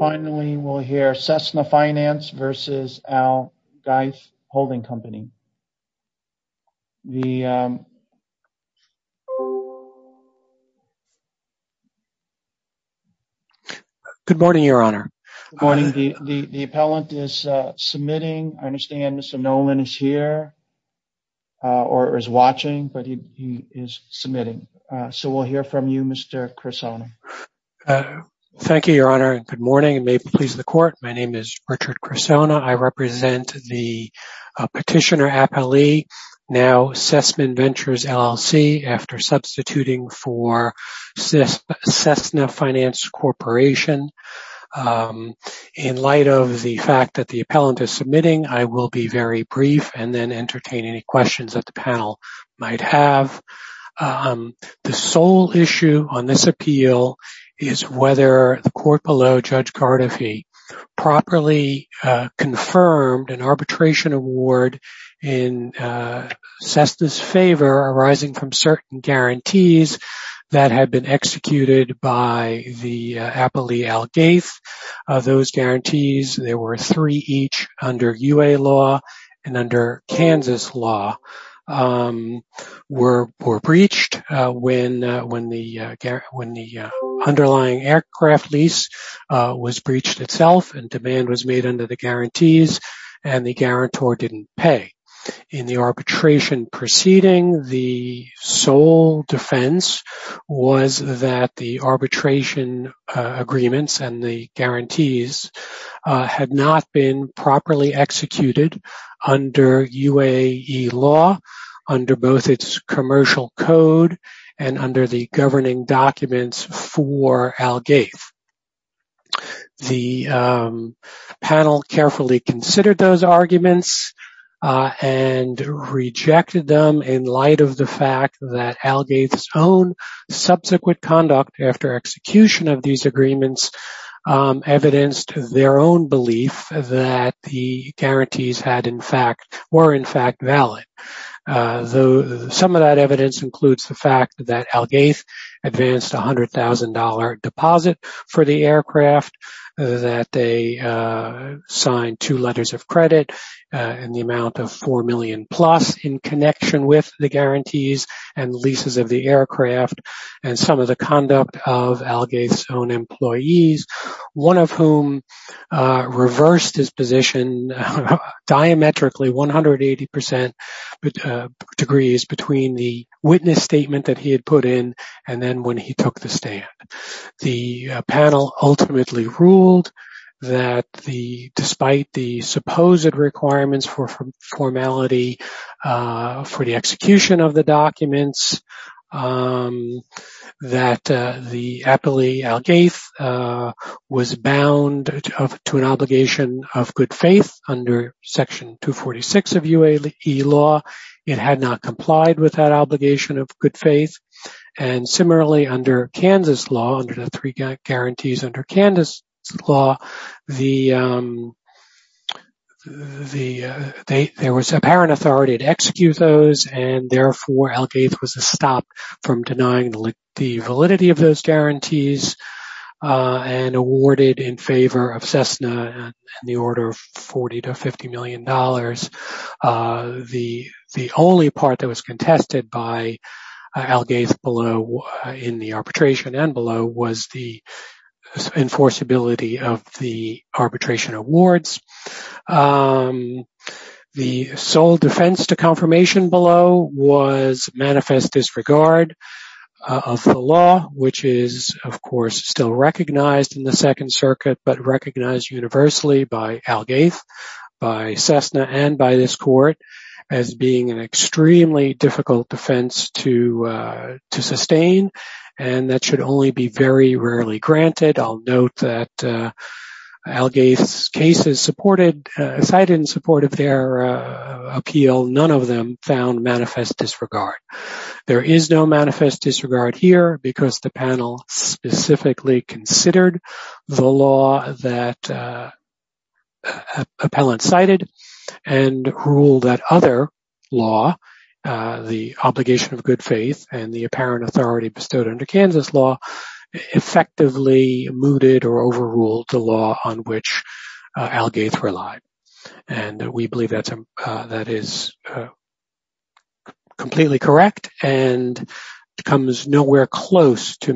Finally, we'll hear Cessna Finance versus Al Geis Holding Company. Good morning, Your Honor. Good morning. The appellant is submitting. I understand Mr. Nolan is here or is watching, but he is submitting. So we'll hear from you, Mr. Cressona. Thank you, Your Honor, and good morning. It may please the court. My name is Richard Cressona. I represent the petitioner appellee now Cessna Ventures LLC after substituting for Cessna Finance Corporation. In light of the fact that the appellant is submitting, I will be very brief and then entertain any questions that the panel might have. The sole issue on this appeal is whether the court below Judge Cardiffy properly confirmed an arbitration award in Cessna's favor arising from certain guarantees that had been executed by the appellee Al Geis. Those guarantees, there were three each under UA law and under Kansas law, were breached when the underlying aircraft lease was breached itself and demand was made under the guarantees and the guarantor didn't pay. In the arbitration proceeding, the sole defense was that the arbitration agreements and the guarantees had not been properly executed under UAE law, under both its commercial code and under the governing documents for Al Geis. The panel carefully considered those arguments and rejected them in light of the fact that Al Geis' own subsequent conduct after execution of these agreements evidenced their own belief that the guarantees were in fact valid. Some of that evidence includes the fact that Al Geis advanced a $100,000 deposit for the aircraft, that they signed two letters of credit in the amount of $4 million plus in connection with the guarantees and leases of the aircraft and some of the conduct of Al Geis' own employees, one of whom reversed his position diametrically 180% degrees between the witness statement that he had put in and then when he took the stand. The panel ultimately ruled that despite the supposed requirements for formality for the execution of the documents, that the appellee Al Geis was bound to an obligation of good faith under section 246 of UAE law, it had not complied with that obligation of good faith. And similarly under Kansas law, under the three guarantees under Kansas law, there was apparent authority to execute those and therefore Al Geis was stopped from denying the validity of those guarantees and awarded in favor of Cessna in the order of $40 to $50 million. The only part that was contested by Al Geis below in the arbitration and below was the enforceability of the arbitration awards. The sole defense to confirmation below was manifest disregard of the law, which is of course still recognized in the Second Circuit but recognized universally by Al Geis, by Cessna and by this court as being an extremely difficult defense to sustain. And that should only be very rarely granted. I'll note that Al Geis cases cited in support of their appeal, none of them found manifest disregard. There is no manifest disregard here because the panel specifically considered the law that appellant cited and ruled that other law, the obligation of good faith and the apparent authority bestowed under Kansas law, effectively mooted or overruled the law on which Al Geis relied. And we believe that is completely correct and comes nowhere close to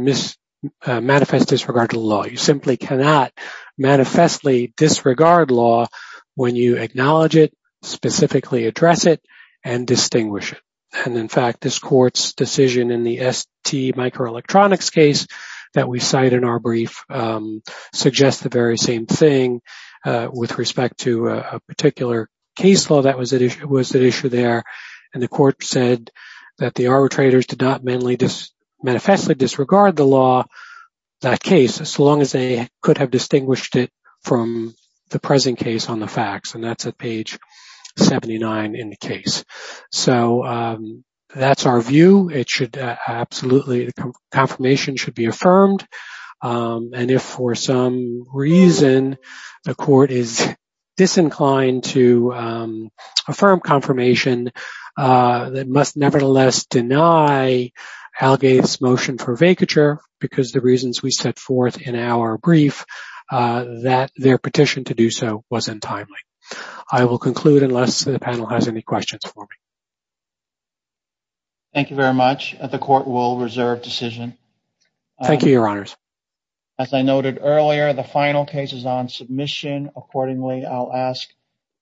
manifest disregard to the law. You simply cannot manifestly disregard law when you acknowledge it, specifically address it and distinguish it. And in fact, this court's decision in the ST microelectronics case that we cite in our brief suggests the very same thing with respect to a particular case law that was at issue there. And the court said that the arbitrators did not manifestly disregard the law, that case, as long as they could have distinguished it from the present case on the facts. And that's at page 79 in the case. So that's our view. It should absolutely. The confirmation should be affirmed. And if for some reason the court is disinclined to affirm confirmation, that must nevertheless deny Al Geis motion for vacature because the reasons we set forth in our brief that their petition to do so was untimely. I will conclude unless the panel has any questions for me. Thank you very much. The court will reserve decision. Thank you, Your Honors. As I noted earlier, the final case is on submission. Accordingly, I'll ask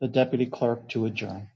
the deputy clerk to adjourn.